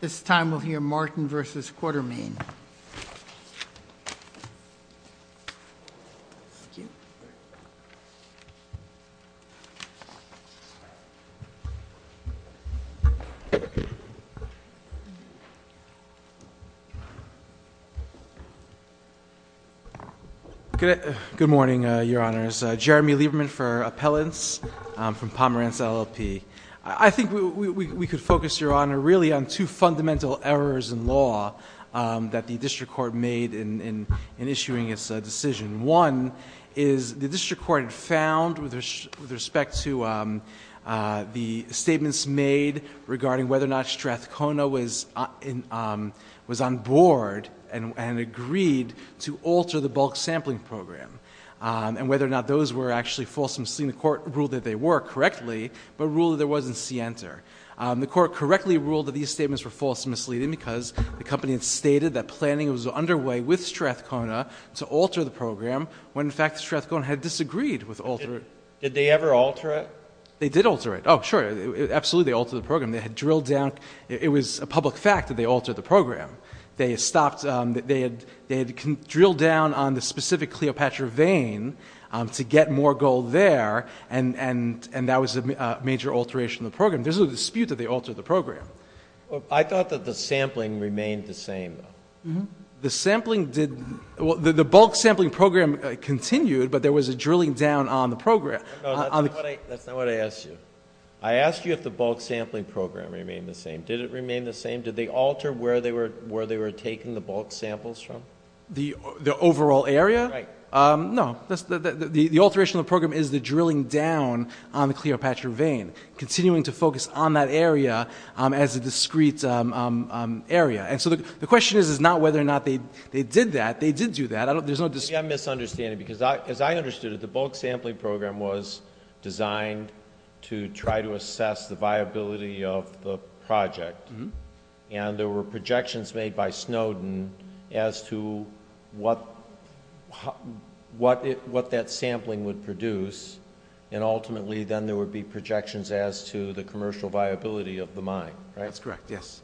This time we'll hear Martin v. Quartermain. Good morning, Your Honors. Jeremy Lieberman for Appellants from Pomerantz LLP. I think we could focus, Your Honor, really on two fundamental errors in law that the District Court made in issuing its decision. One is the District Court found, with respect to the statements made regarding whether or not Strathcona was on board and agreed to alter the bulk sampling program, and whether or not those were actually fulsome, seeing the court rule that they were correctly, but rule that there wasn't scienter. The court correctly ruled that these statements were false and misleading because the company had stated that planning was underway with Strathcona to alter the program, when in fact Strathcona had disagreed with altering it. Did they ever alter it? They did alter it. Oh, sure, absolutely they altered the program. They had drilled down—it was a public fact that they altered the program. They stopped—they had drilled down on the specific Cleopatra vein to get more gold there, and that was a major alteration of the program. There's no dispute that they altered the program. I thought that the sampling remained the same, though. The sampling did—well, the bulk sampling program continued, but there was a drilling down on the program. No, that's not what I asked you. I asked you if the bulk sampling program remained the same. Did it remain the same? Did they alter where they were taking the bulk samples from? The overall area? No. The alteration of the program is the drilling down on the Cleopatra vein, continuing to focus on that area as a discrete area. And so the question is not whether or not they did that. They did do that. There's no dispute. Maybe I'm misunderstanding, because as I understood it, the bulk sampling program was designed to try to assess the viability of the project, and there were projections made by Snowden as to what that sampling would produce. And ultimately, then there would be projections as to the commercial viability of the mine, right? That's correct, yes.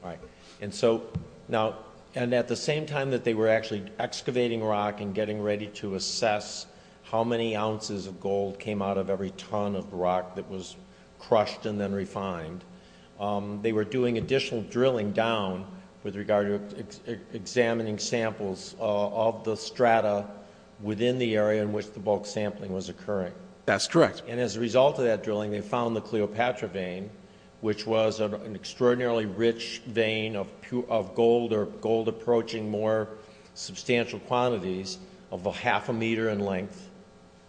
And at the same time that they were actually excavating rock and getting ready to assess how many ounces of gold came out of every ton of rock that was crushed and then refined, they were doing additional drilling down with regard to examining samples of the strata within the area in which the bulk sampling was occurring. That's correct. And as a result of that drilling, they found the Cleopatra vein, which was an extraordinarily rich vein of gold or gold approaching more substantial quantities of a half a meter in length.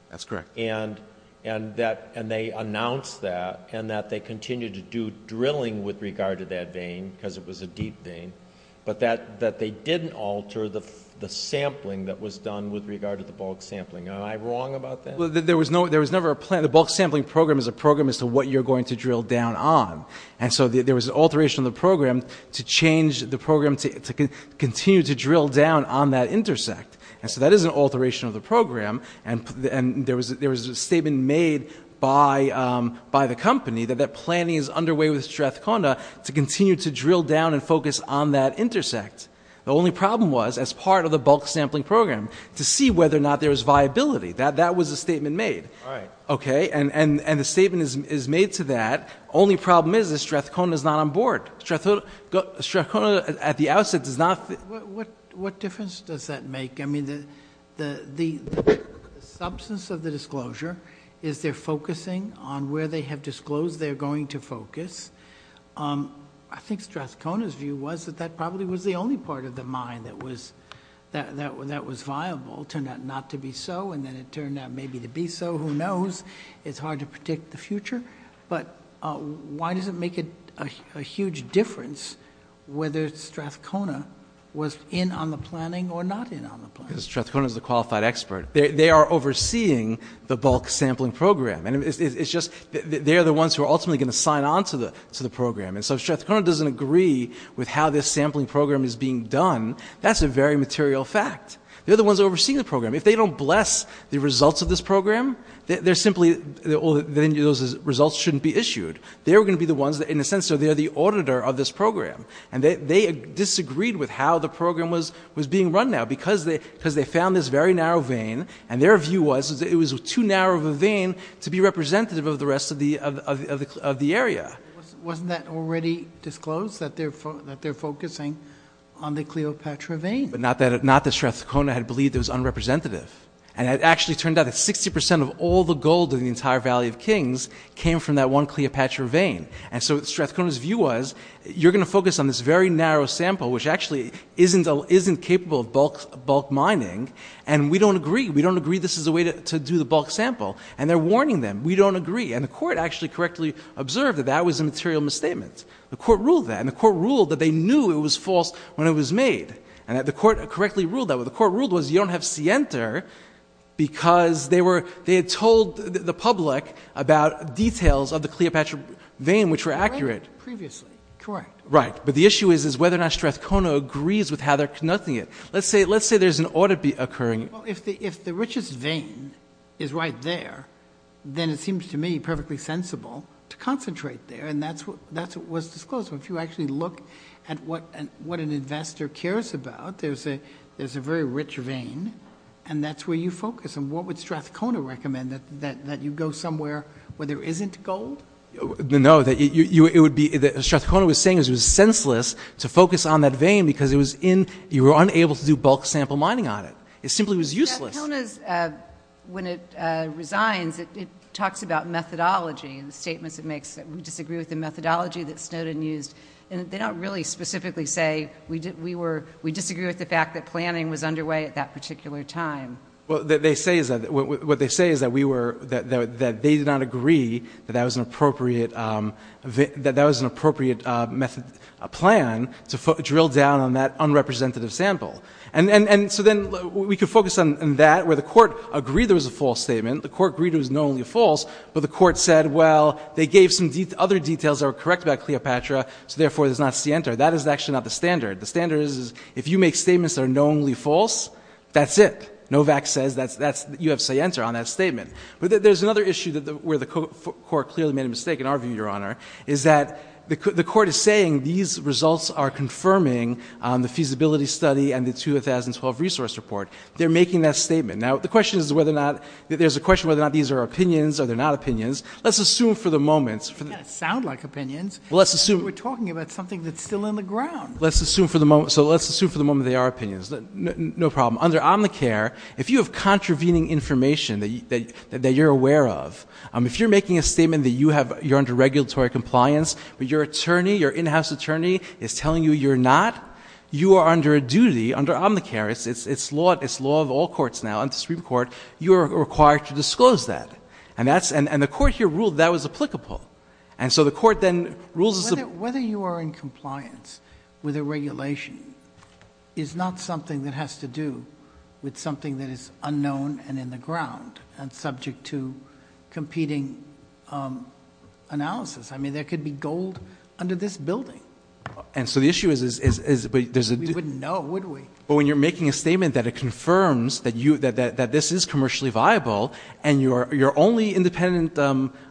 That's correct. And they announced that, and that they continued to do drilling with regard to that vein, because it was a deep vein, but that they didn't alter the sampling that was done with regard to the bulk sampling. Am I wrong about that? There was never a plan. The bulk sampling program is a program as to what you're going to drill down on. And so there was an alteration of the program to change the program to continue to drill down on that intersect. And so that is an alteration of the program. And there was a statement made by the company that that planning is underway with Strathcona to continue to drill down and focus on that intersect. The only problem was, as part of the bulk sampling program, to see whether or not there was viability. That was a statement made. Right. Okay? And the statement is made to that. Only problem is that Strathcona is not on board. Strathcona, at the outset, does not... What difference does that make? I mean, the substance of the disclosure is they're focusing on where they have disclosed they're going to focus. I think Strathcona's view was that that probably was the only part of the mine that was viable. Turned out not to be so, and then it turned out maybe to be so. Who knows? It's hard to predict the future. But why does it make a huge difference whether Strathcona was in on the planning or not in on the planning? Because Strathcona's the qualified expert. They are overseeing the bulk sampling program. And it's just, they're the ones who are ultimately going to sign on to the program. And so if Strathcona doesn't agree with how this sampling program is being done, that's a very material fact. They're the ones overseeing the program. If they don't bless the results of this program, they're simply... Then those results shouldn't be issued. They're going to be the ones that, in a sense, they're the auditor of this program. And they disagreed with how the program was being run now because they found this very narrow vein, and their view was it was too narrow of a vein to be representative of the rest of the area. Wasn't that already disclosed, that they're focusing on the Cleopatra vein? Not that Strathcona had believed it was unrepresentative. And it actually turned out that 60 percent of all the gold in the entire Valley of Kings came from that one Cleopatra vein. And so Strathcona's view was, you're going to focus on this very narrow sample, which actually isn't capable of bulk mining, and we don't agree. We don't agree this is the way to do the bulk sample. And they're warning them, we don't agree. And the court actually correctly observed that that was a material misstatement. The court ruled that. And the court ruled that they knew it was false when it was made. And the court correctly ruled that. What the they had told the public about details of the Cleopatra vein, which were accurate. Previously, correct. Right. But the issue is, is whether or not Strathcona agrees with how they're conducting it. Let's say, let's say there's an audit occurring. If the richest vein is right there, then it seems to me perfectly sensible to concentrate there. And that's what, that's what was disclosed. If you actually look at what an, what an investor cares about, there's a, there's a very rich vein and that's where you focus. And what would Strathcona recommend? That, that, that you go somewhere where there isn't gold? No, that you, you, it would be, that Strathcona was saying is it was senseless to focus on that vein because it was in, you were unable to do bulk sample mining on it. It simply was useless. Strathcona's, when it resigns, it talks about methodology and the statements it makes that we disagree with the methodology that Snowden used. And they don't really specifically say we did, we were, we disagree with the fact that planning was underway at that particular time. Well, what they say is that, what they say is that we were, that, that they did not agree that that was an appropriate, that that was an appropriate method, plan to drill down on that unrepresentative sample. And, and, and so then we could focus on that where the court agreed there was a false statement, the court agreed it was knowingly false, but the court said, well, they gave some other details that were correct about Cleopatra, so therefore it is not scienter. That is actually not the standard. The standard is, is if you make statements that are knowingly false, that's it. Novak says that's, that's, you have scienter on that statement. But there's another issue that the, where the court clearly made a mistake in our view, Your Honor, is that the court is saying these results are confirming the feasibility study and the 2012 resource report. They're making that statement. Now, the question is whether or not, there's a question whether or not these are opinions or they're not opinions. Let's assume for the moment. They kind of sound like opinions. Well, let's assume. We're talking about something that's still in the ground. Let's assume for the moment, so let's assume for the moment they are opinions. No problem. Under Omnicare, if you have contravening information that you're aware of, if you're making a statement that you have, you're under regulatory compliance, but your attorney, your in-house attorney is telling you you're not, you are under a duty under Omnicare, it's law, it's law of all courts now, under Supreme Court, you are required to disclose that. And that's, and the court here ruled that was applicable. And so the court then rules as a whether you are in compliance with a regulation is not something that has to do with something that is unknown and in the ground and subject to competing analysis. I mean, there could be gold under this building. And so the issue is, is, is, is, but there's a, we wouldn't know, would we? But when you're making a statement that it confirms that you, that, that, that this is commercially viable and you're, you're only independent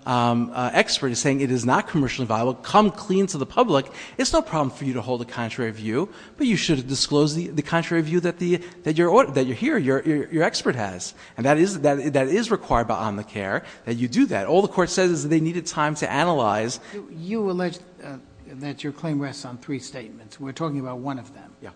expert is saying it is not commercially viable, come clean to the public. It's no problem for you to hold a contrary view, but you should disclose the, the contrary view that the, that you're, that you're here, you're, you're expert has. And that is, that is required by Omnicare that you do that. All the court says is that they needed time to analyze. You alleged that your claim rests on three statements. We're talking about one of them. Yeah.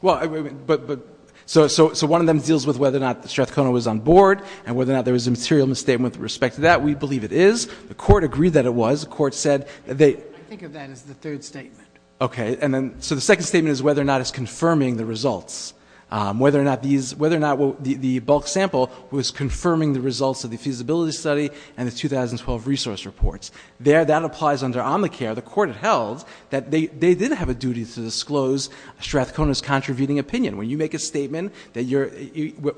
Well, but, but, so, so, so one of them deals with whether or not the Strathcona was on board and whether or not there was a material misstatement with respect to that. We believe it is. The court agreed that it was. The court said that they, I think of that as the third statement. Okay. And then, so the second statement is whether or not it's confirming the results, um, whether or not these, whether or not the, the bulk sample was confirming the results of the feasibility study and the 2012 resource reports. There, that applies under Omnicare. The court had held that they, they did have a duty to disclose Strathcona's contravening opinion. When you make a statement that you're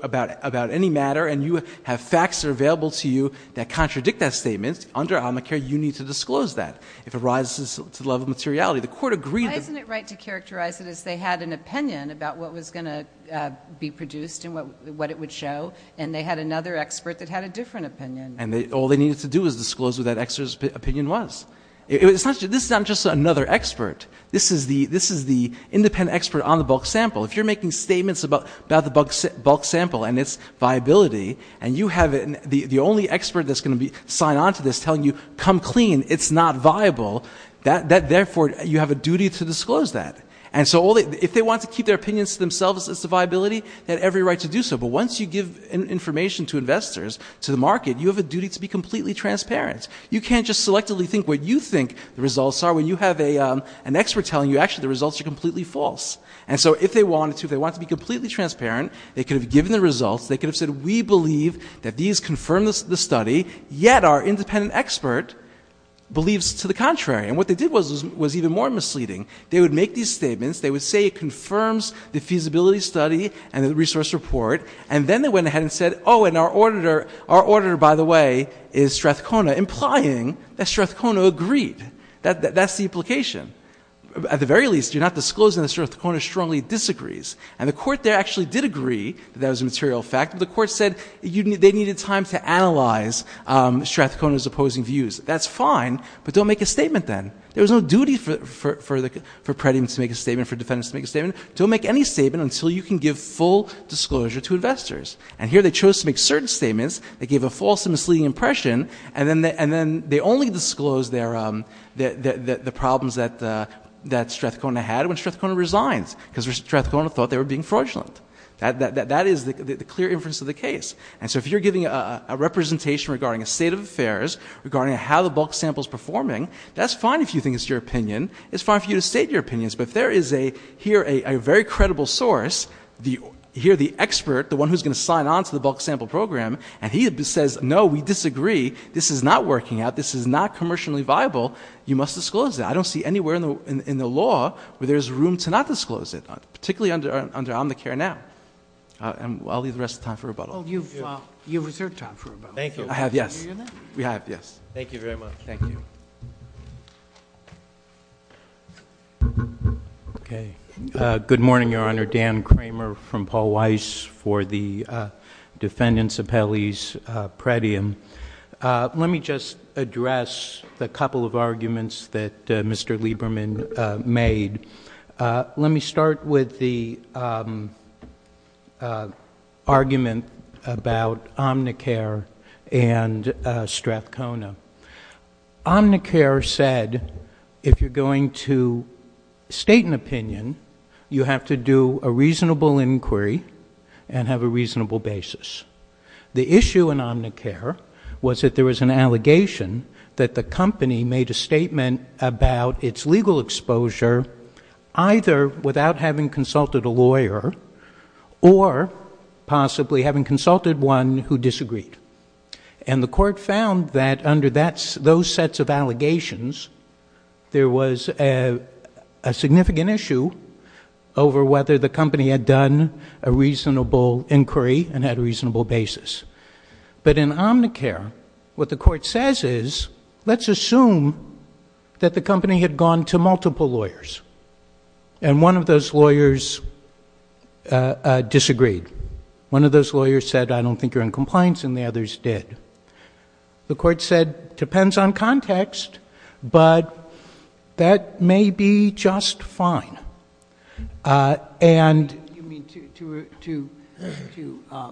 about, about any matter and you have facts that are available to you that contradict that statement, under Omnicare, you need to disclose that. If it rises to the level of materiality, the court agreed that. Why isn't it right to characterize it as they had an opinion about what was going to, uh, be produced and what, what it would show? And they had another expert that had a different opinion. And they, all they needed to do was disclose what that expert's opinion was. It was such a, this is not just another expert. This is the, this is the independent expert on the bulk sample. If you're making statements about, about the bulk sample and its viability and you have the, the only expert that's going to be, sign on to this telling you, come clean, it's not viable, that, that, therefore you have a duty to disclose that. And so all they, if they want to keep their opinions to themselves as to viability, they have every right to do so. But once you give information to investors, to the market, you have a duty to be completely transparent. You can't just selectively think what you think the results are when you have a, um, an expert telling you actually the results are completely false. And so if they wanted to, if they wanted to be completely transparent, they could have given the results, they could have said, we believe that these confirm this, the study, yet our independent expert believes to the contrary. And what they did was, was, was even more misleading. They would make these statements. They would say it confirms the feasibility study and the resource report. And then they went ahead and said, oh, and our auditor, our auditor, by the way, is Strathcona, implying that Strathcona agreed. That, that, that's the implication. At the very least, you're not disclosing that Strathcona strongly disagrees. And the court there actually did agree that that was a material fact, but the court said they needed time to analyze, um, Strathcona's opposing views. That's fine, but don't make a statement then. There was no duty for, for, for the, for Pretty to make a statement, for defendants to make a statement. Don't make any statement until you can give full disclosure to investors. And here they chose to make certain statements that gave a false and misleading impression, and then, and then they only disclosed their, um, the, the, the problems that, uh, that Strathcona had when Strathcona resigned, because Strathcona thought they were being fraudulent. That, that, that, that is the clear inference of the case. And so if you're giving a representation regarding a state of affairs, regarding how the bulk sample's performing, that's fine if you think it's your opinion. It's fine for you to state your opinions, but if there is a, here, a, a very credible source, the, here, the expert, the one who's going to sign onto the bulk sample program, and he says, no, we disagree, this is not working out, this is not commercially viable, you must disclose it. I don't see anywhere in the, in the law where there's room to not disclose it, particularly under, under Omnicare now. And I'll leave the rest of time for rebuttal. Oh, you've, uh, you've reserved time for rebuttal. Thank you. I have. Yes, we have. Yes. Thank you very much. Thank you. Okay. Uh, good morning, Your Honor. Dan Kramer from Paul Weiss for the, uh, defendants appellees, uh, predium. Uh, let me just address the couple of arguments that, uh, Mr. Lieberman, uh, made. Uh, let me start with the, um, uh, argument about Omnicare and, uh, Strathcona. Omnicare said, if you're going to state an opinion, you have to do a reasonable inquiry and have a reasonable basis. The issue in Omnicare was that there was an allegation that the company made a statement about its legal exposure, either without having consulted a lawyer or possibly having consulted one who disagreed. And the court found that under that, those sets of allegations, there was a, a significant issue over whether the company had done a reasonable inquiry and had a reasonable basis. But in Omnicare, what the court says is, let's assume that the company had gone to multiple lawyers and one of those lawyers, uh, uh, disagreed. One of those lawyers said, I don't think you're in compliance. And the others did. The court said, depends on context, but that may be just fine. Uh, and you mean to, to, to, to, uh,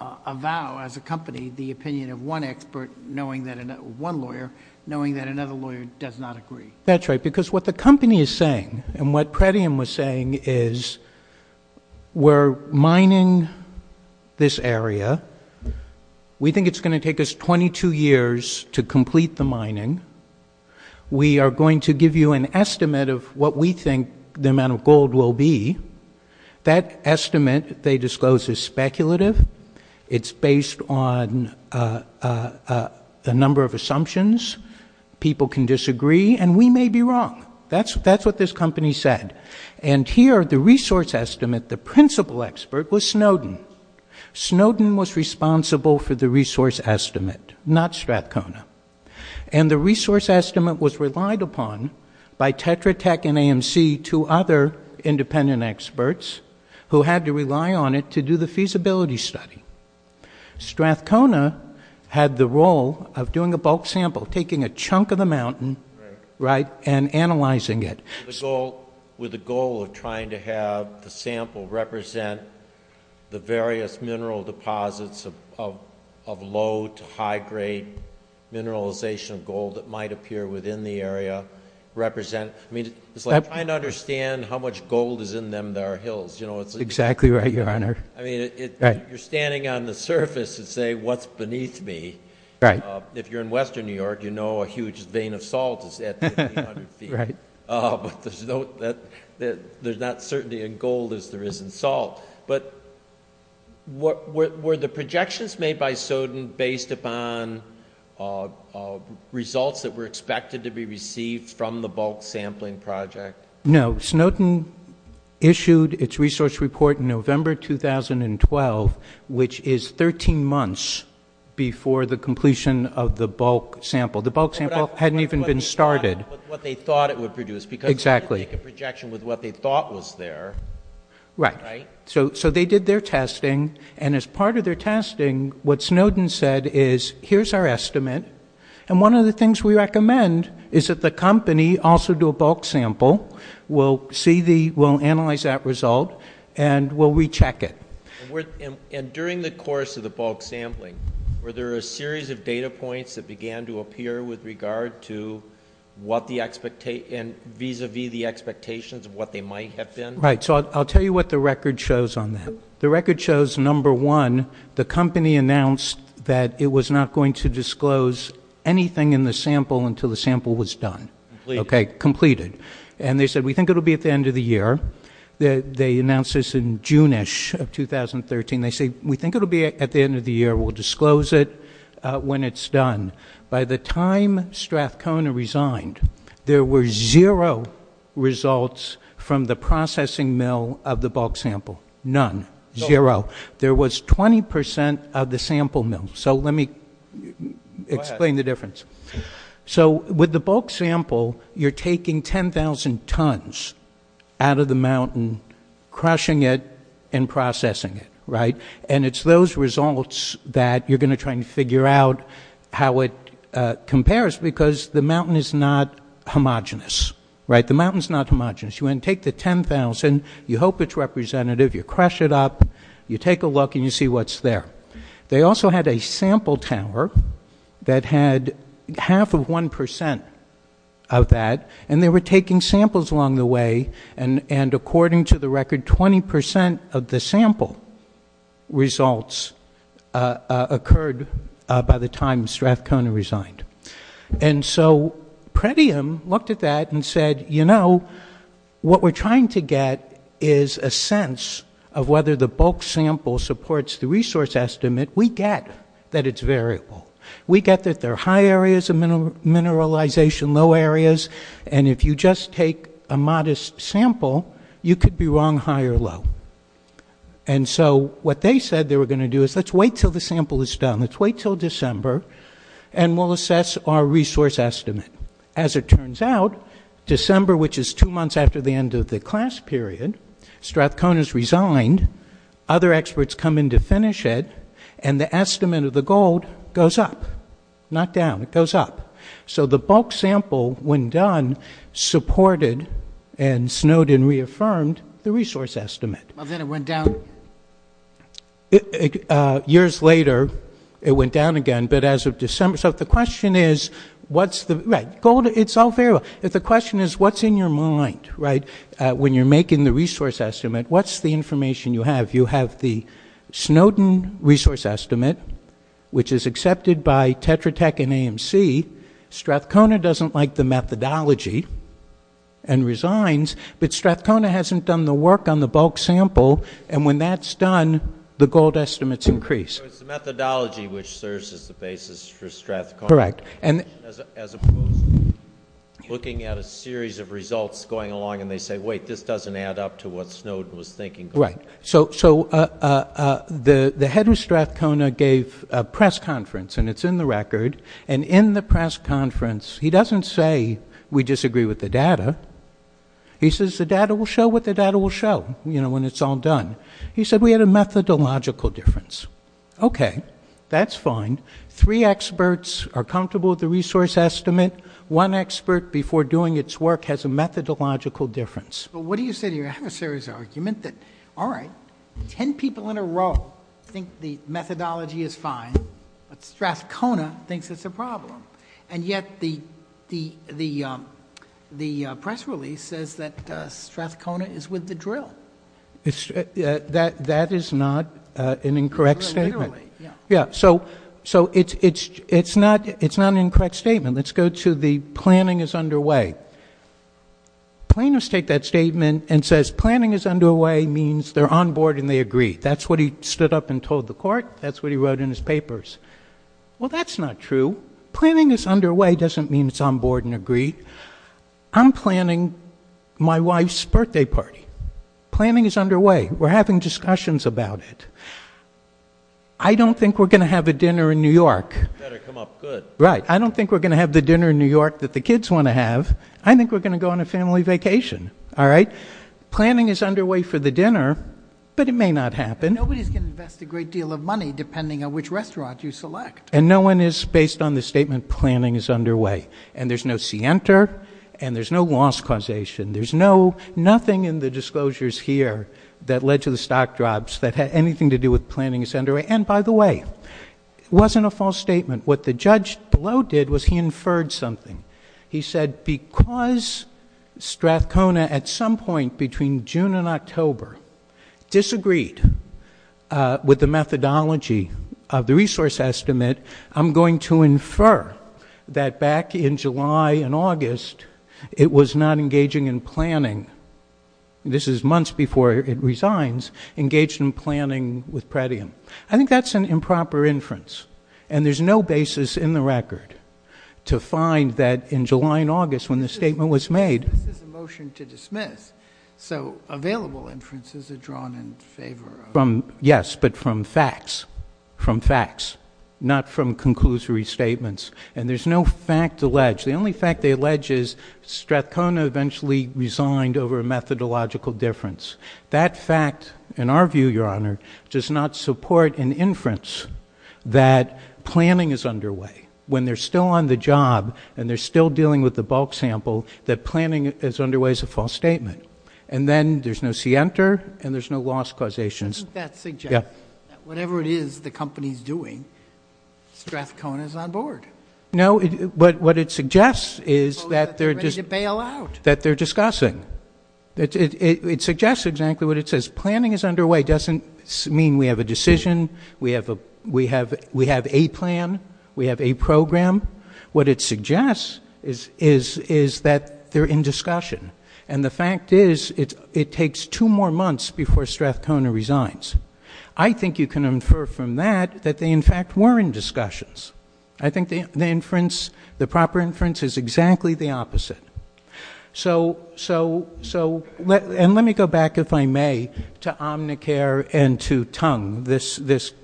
uh, avow as a company, the opinion of one expert, knowing that one lawyer, knowing that another lawyer does not agree. That's right. Because what the company is saying and what Pretium was saying is we're mining this area. We think it's going to take us 22 years to complete the mining. We are going to give you an estimate of what we think the amount of gold will be. That estimate they disclosed is speculative. It's based on, uh, uh, a number of assumptions. People can disagree and we may be wrong. That's, that's what this company said. And here, the resource estimate, the principal expert was Snowden. Snowden was responsible for the resource estimate, not Strathcona. And the resource estimate was relied upon by Tetra Tech and AMC, two other independent experts who had to rely on it to the feasibility study. Strathcona had the role of doing a bulk sample, taking a chunk of the mountain, right? And analyzing it. So with the goal of trying to have the sample represent the various mineral deposits of, of, of low to high grade mineralization of gold that might appear within the area represent, I mean, it's like trying to understand how much gold is in our hills. You know, it's exactly right. Your honor. I mean, you're standing on the surface and say, what's beneath me. Right. If you're in Western New York, you know, a huge vein of salt is at 500 feet. Uh, but there's no, that there's not certainly in gold as there isn't salt, but what were the projections made by Soden based upon, uh, uh, results that were expected to be issued its resource report in November, 2012, which is 13 months before the completion of the bulk sample, the bulk sample hadn't even been started, what they thought it would produce because exactly a projection with what they thought was there. Right. So, so they did their testing. And as part of their testing, what Snowden said is here's our estimate. And one of the things we recommend is that the company also do a bulk sample. We'll see the, we'll analyze that result and we'll recheck it. And during the course of the bulk sampling, were there a series of data points that began to appear with regard to what the expectation vis-a-vis the expectations of what they might have been? Right. So I'll tell you what the record shows on that. The record shows number one, the company announced that it was not going to disclose anything in the sample until the sample was done. Okay. Completed. And they said, we think it'll be at the end of the year that they announced this in June-ish of 2013. They say, we think it'll be at the end of the year. We'll disclose it when it's done. By the time Strathcona resigned, there were zero results from the processing mill of the bulk sample. None. Zero. There was 20% of the sample mill. So let me explain the difference. So with the bulk sample, you're taking 10,000 tons out of the mountain, crushing it and processing it, right? And it's those results that you're going to try and figure out how it compares because the mountain is not homogenous, right? The mountain's not homogenous. You take the 10,000, you hope it's representative, you crush it up, you take a look and you see what's there. They also had a sample tower that had half of 1% of that, and they were taking samples along the way. And according to the record, 20% of the sample results occurred by the time Strathcona resigned. And so Pretium looked at that and said, you know, what we're trying to get is a sense of whether the bulk sample supports the resource estimate. We get that it's variable. We get that there are high areas of mineralization, low areas, and if you just take a modest sample, you could be wrong high or low. And so what they said they were going to do is let's wait till the sample is done. Let's wait till December and we'll assess our resource estimate. As it turns out, December, which is two months after the end of the class period, Strathcona's resigned. Other experts come in to finish it and the estimate of the gold goes up, not down. It goes up. So the bulk sample, when done, supported and Snowden reaffirmed the resource estimate. Well, then it went down. Years later, it went down again. But as of December, so the question is, what's the gold? It's all variable. If the question is what's in your mind, right? When you're making the resource estimate, what's the information you have? You have the Snowden resource estimate, which is accepted by Tetra Tech and AMC. Strathcona doesn't like the methodology and resigns, but Strathcona hasn't done the work on the bulk sample. And when that's done, the gold estimates increase. It's the methodology which serves as the basis for Strathcona. Correct. And as opposed to looking at a series of results going along and they say, wait, this doesn't add up to what Snowden was thinking. Right. So the head of Strathcona gave a press conference and it's in the record. And in the press conference, he doesn't say we disagree with the data. He says the data will show what the data will show when it's all done. He said we had a methodological difference. Okay, that's fine. Three experts are comfortable with the resource estimate. One expert before doing its work has a methodological difference. But what do you say to your adversary's argument that, all right, 10 people in a row think the methodology is fine, but Strathcona thinks it's a problem. And yet the press release says that Strathcona is with the drill. That is not an incorrect statement. Yeah. So it's not an incorrect statement. Let's go to the planning is underway. Plaintiffs take that statement and says planning is underway means they're on board and they agree. That's what he stood up and told the court. That's what he wrote in his papers. Well, that's not true. Planning is underway doesn't mean it's on board and agree. I'm planning my wife's birthday party. Planning is underway. We're having discussions about it. I don't think we're going to have a dinner in New York. It better come up good. Right. I don't think we're going to have the dinner in New York that the kids want to have. I think we're going to go on a family vacation. All right. Planning is underway for the dinner, but it may not happen. Nobody's going to invest a great deal of money depending on which restaurant you select. And no one is, based on the statement, planning is underway. And there's no scienter and there's no loss causation. There's nothing in the disclosures here that led to the stock drops that had anything to do with planning is underway. And by the way, it wasn't a false statement. What the judge below did was he inferred something. He said, because Strathcona at some point between June and October disagreed with the methodology of the resource estimate, I'm going to infer that back in July and August, it was not engaging in planning. This is months before it resigns, engaged in planning with Pretium. I think that's an improper inference. And there's no basis in the record to find that in July and August when the statement was made. This is a motion to dismiss. So available inferences are drawn in favor of... Yes, but from facts, from facts, not from conclusory statements. And there's no fact they allege. The only fact they allege is Strathcona eventually resigned over a methodological difference. That fact, in our view, Your Honor, does not support an inference that planning is underway. When they're still on the job and they're still dealing with the bulk sample, that planning is underway is a false statement. And then there's no scienter and there's no loss causation. Doesn't that suggest that whatever it is the company's doing, Strathcona is on board? No, but what it suggests is that they're... Ready to bail out. That they're discussing. It suggests exactly what it says. Planning is underway doesn't mean we have a decision, we have a plan, we have a program. What it suggests is that they're in discussion. And the fact is it takes two more months before Strathcona resigns. I think you can infer from that that they in fact were in discussions. I think the proper inference is exactly the opposite. And let me go back, if I may, to Omnicare and to Tung, this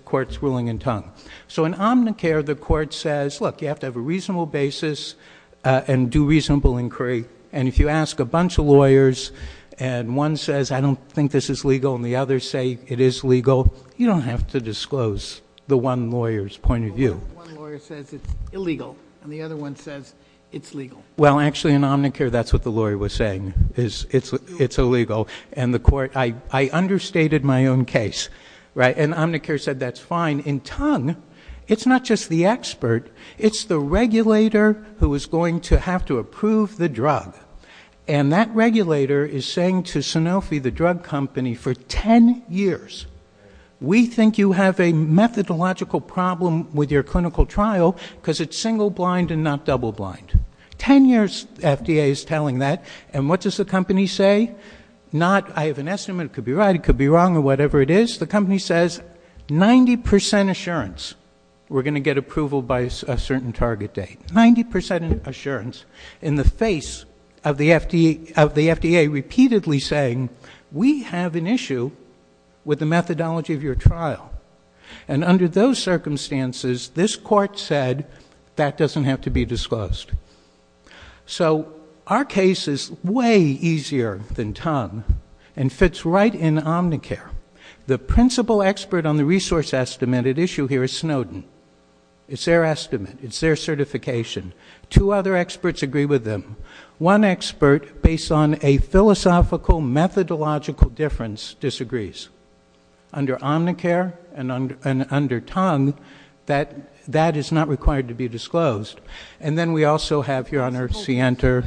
court's ruling in Tung. So in Omnicare, the court says, look, you have to have a reasonable basis and do reasonable inquiry. And if you ask a bunch of lawyers and one says, I don't think this is legal, and the others say it is legal, you don't have to disclose the one lawyer's point of view. One lawyer says it's illegal, and the other one says it's legal. Well, actually in Omnicare, that's what the lawyer was saying, is it's illegal. And the court, I understated my own case, right? And Omnicare said, that's fine. In Tung, it's not just the expert, it's the regulator who is going to have to approve the drug. And that regulator is saying to the FDA, for 10 years, we think you have a methodological problem with your clinical trial because it's single blind and not double blind. 10 years, FDA is telling that. And what does the company say? Not, I have an estimate, it could be right, it could be wrong, or whatever it is. The company says, 90% assurance, we're going to get approval by a certain target date. 90% assurance, in the face of the FDA repeatedly saying, we have an issue with the methodology of your trial. And under those circumstances, this court said, that doesn't have to be disclosed. So our case is way easier than Tung, and fits right in Omnicare. The principal expert on the other experts agree with them. One expert, based on a philosophical methodological difference, disagrees. Under Omnicare, and under Tung, that is not required to be disclosed. And then we also have, your honor, Sienter.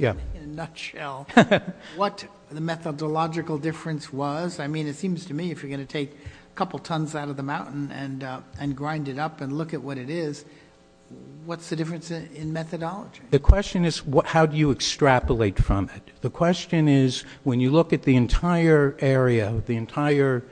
In a nutshell, what the methodological difference was, I mean, it seems to me, if you're going to take a couple tons out of the mountain and grind it up and look at what it is, what's the difference in methodology? The question is, how do you extrapolate from it? The question is, when you look at the entire area, the entire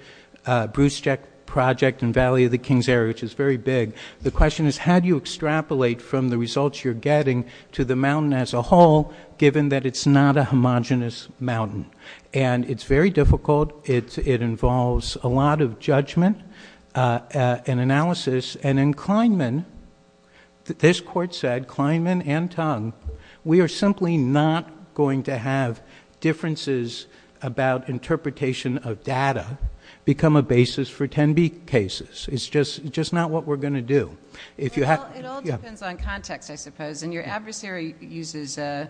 Brusteck project and Valley of the Kings area, which is very big, the question is, how do you extrapolate from the results you're getting to the mountain as a whole, given that it's not a homogenous mountain? And it's very difficult, it involves a lot of judgment and analysis, and in Kleinman, this court said, Kleinman and Tung, we are simply not going to have differences about interpretation of data become a basis for 10B cases. It's just not what we're going to do. It all depends on context, I suppose, and your adversary uses the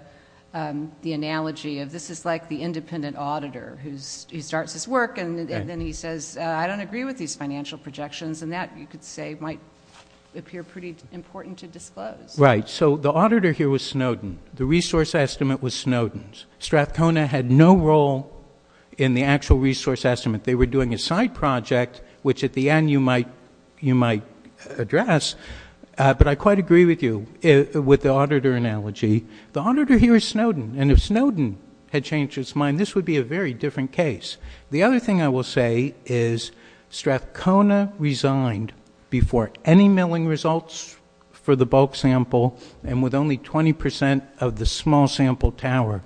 analogy of, this is like the independent auditor who starts his work and then he says, I don't agree with these financial projections, and that, you could say, might appear pretty important to disclose. Right. So the auditor here was Snowden. The resource estimate was Snowden's. Strathcona had no role in the actual resource estimate. They were doing a side project, which at the end you might address, but I quite agree with you, with the auditor analogy. The auditor here is Snowden, and if Snowden had changed his mind, this would be a very different case. The other thing I will say is Strathcona resigned before any milling results for the bulk sample, and with only 20% of the small sample tower.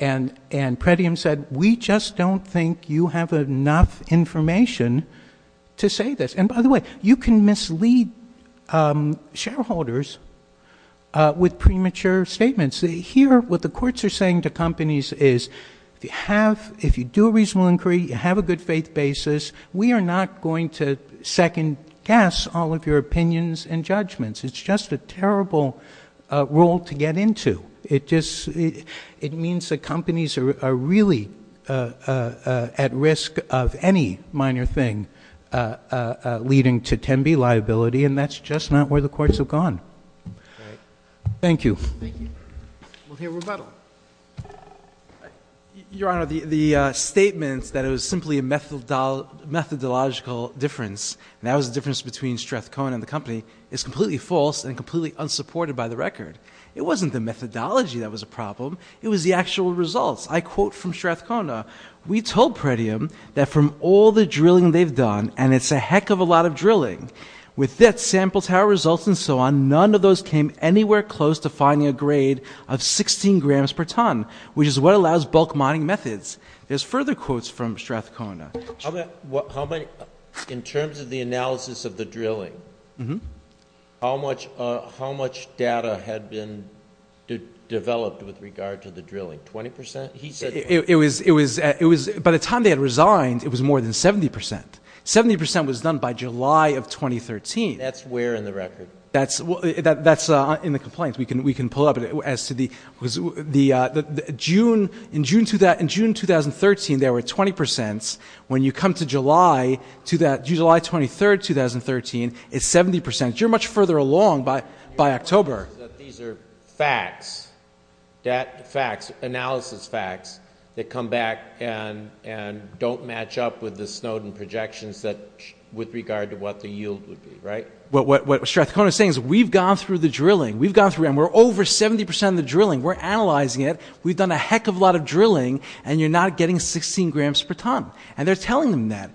And Pretium said, we just don't think you have enough information to say this. And by the way, you can mislead shareholders with premature statements. Here, what the courts are saying to companies is, if you do a reasonable inquiry, you have a good faith basis, we are not going to second-guess all of your opinions and judgments. It's just a terrible rule to get into. It just, it means that companies are really at risk of any minor thing leading to Tembi liability, and that's just not where the courts have gone. Thank you. Thank you. We'll hear rebuttal. Your Honor, the statement that it was simply a methodological difference, and that was the difference between Strathcona and the company, is completely false and completely unsupported by the record. It wasn't the methodology that was a problem, it was the actual results. I quote from Strathcona, we told Pretium that from all the drilling they've done, and it's a heck of a lot of drilling, with that sample tower results and so on, none of those came anywhere close to finding a grade of 16 grams per ton, which is what allows bulk mining methods. There's further had been developed with regard to the drilling. 20%? It was, by the time they had resigned, it was more than 70%. 70% was done by July of 2013. That's where in the record? That's in the complaints. We can pull up. In June 2013, there were 20%. When you come to July, July 23, 2013, it's 70%. You're much further along by October. These are facts, analysis facts that come back and don't match up with the Snowden projections with regard to what the yield would be, right? What Strathcona is saying is we've gone through the drilling. We've gone through, and we're over 70% of the drilling. We're analyzing it. We've done a heck of a lot of drilling, and you're not getting 16 grams per ton. They're telling them that.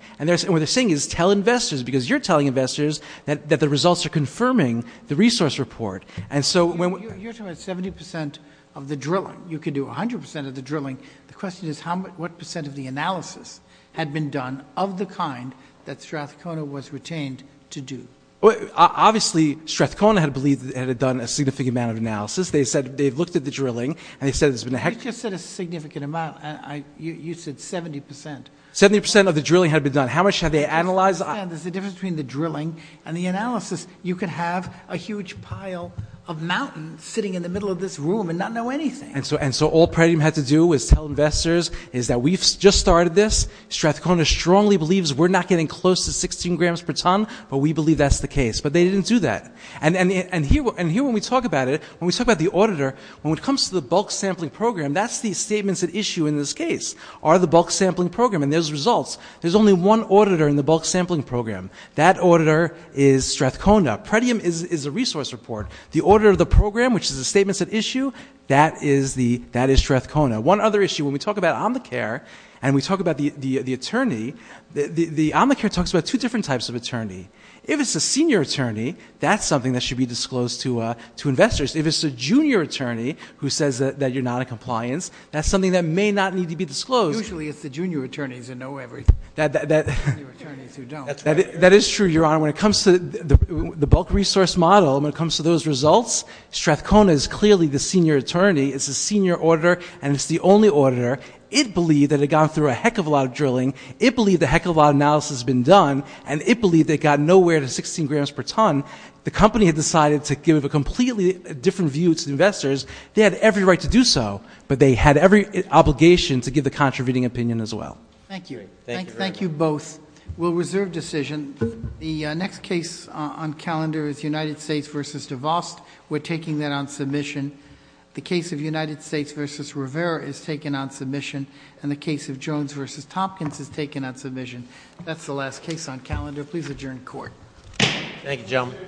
What they're telling investors, because you're telling investors that the results are confirming the resource report. You're talking about 70% of the drilling. You could do 100% of the drilling. The question is what percent of the analysis had been done of the kind that Strathcona was retained to do? Obviously, Strathcona had believed that they had done a significant amount of analysis. They said they've looked at the drilling, and they said there's been a heck of a lot. You just said a significant amount. You said 70%. 70% of the drilling had been done. How much had they analyzed? I understand there's a difference between the drilling and the analysis. You could have a huge pile of mountains sitting in the middle of this room and not know anything. And so all Predam had to do was tell investors is that we've just started this. Strathcona strongly believes we're not getting close to 16 grams per ton, but we believe that's the case, but they didn't do that. And here when we talk about it, when we talk about the auditor, when it comes to the bulk sampling program, that's the statements at issue in this case are the bulk sampling program, and there's results. There's only one auditor in the bulk sampling program. That auditor is Strathcona. Predam is a resource report. The auditor of the program, which is the statements at issue, that is Strathcona. One other issue, when we talk about Omnicare and we talk about the attorney, the Omnicare talks about two different types of attorney. If it's a senior attorney, that's something that should be disclosed to investors. If it's a junior attorney who says that you're not in compliance, that's not something that needs to be disclosed. Usually it's the junior attorneys who know everything. That is true, Your Honor. When it comes to the bulk resource model, when it comes to those results, Strathcona is clearly the senior attorney. It's the senior auditor, and it's the only auditor. It believed that it had gone through a heck of a lot of drilling. It believed a heck of a lot of analysis had been done, and it believed it got nowhere to 16 grams per ton. The company had decided to give a completely different view to investors. They had every right to do so, but they had every obligation to give the contributing opinion as well. Thank you. Thank you both. We'll reserve decision. The next case on calendar is United States v. DeVos. We're taking that on submission. The case of United States v. Rivera is taken on submission, and the case of Jones v. Tompkins is taken on submission. That's the last case on calendar. Please adjourn court. Thank you, gentlemen.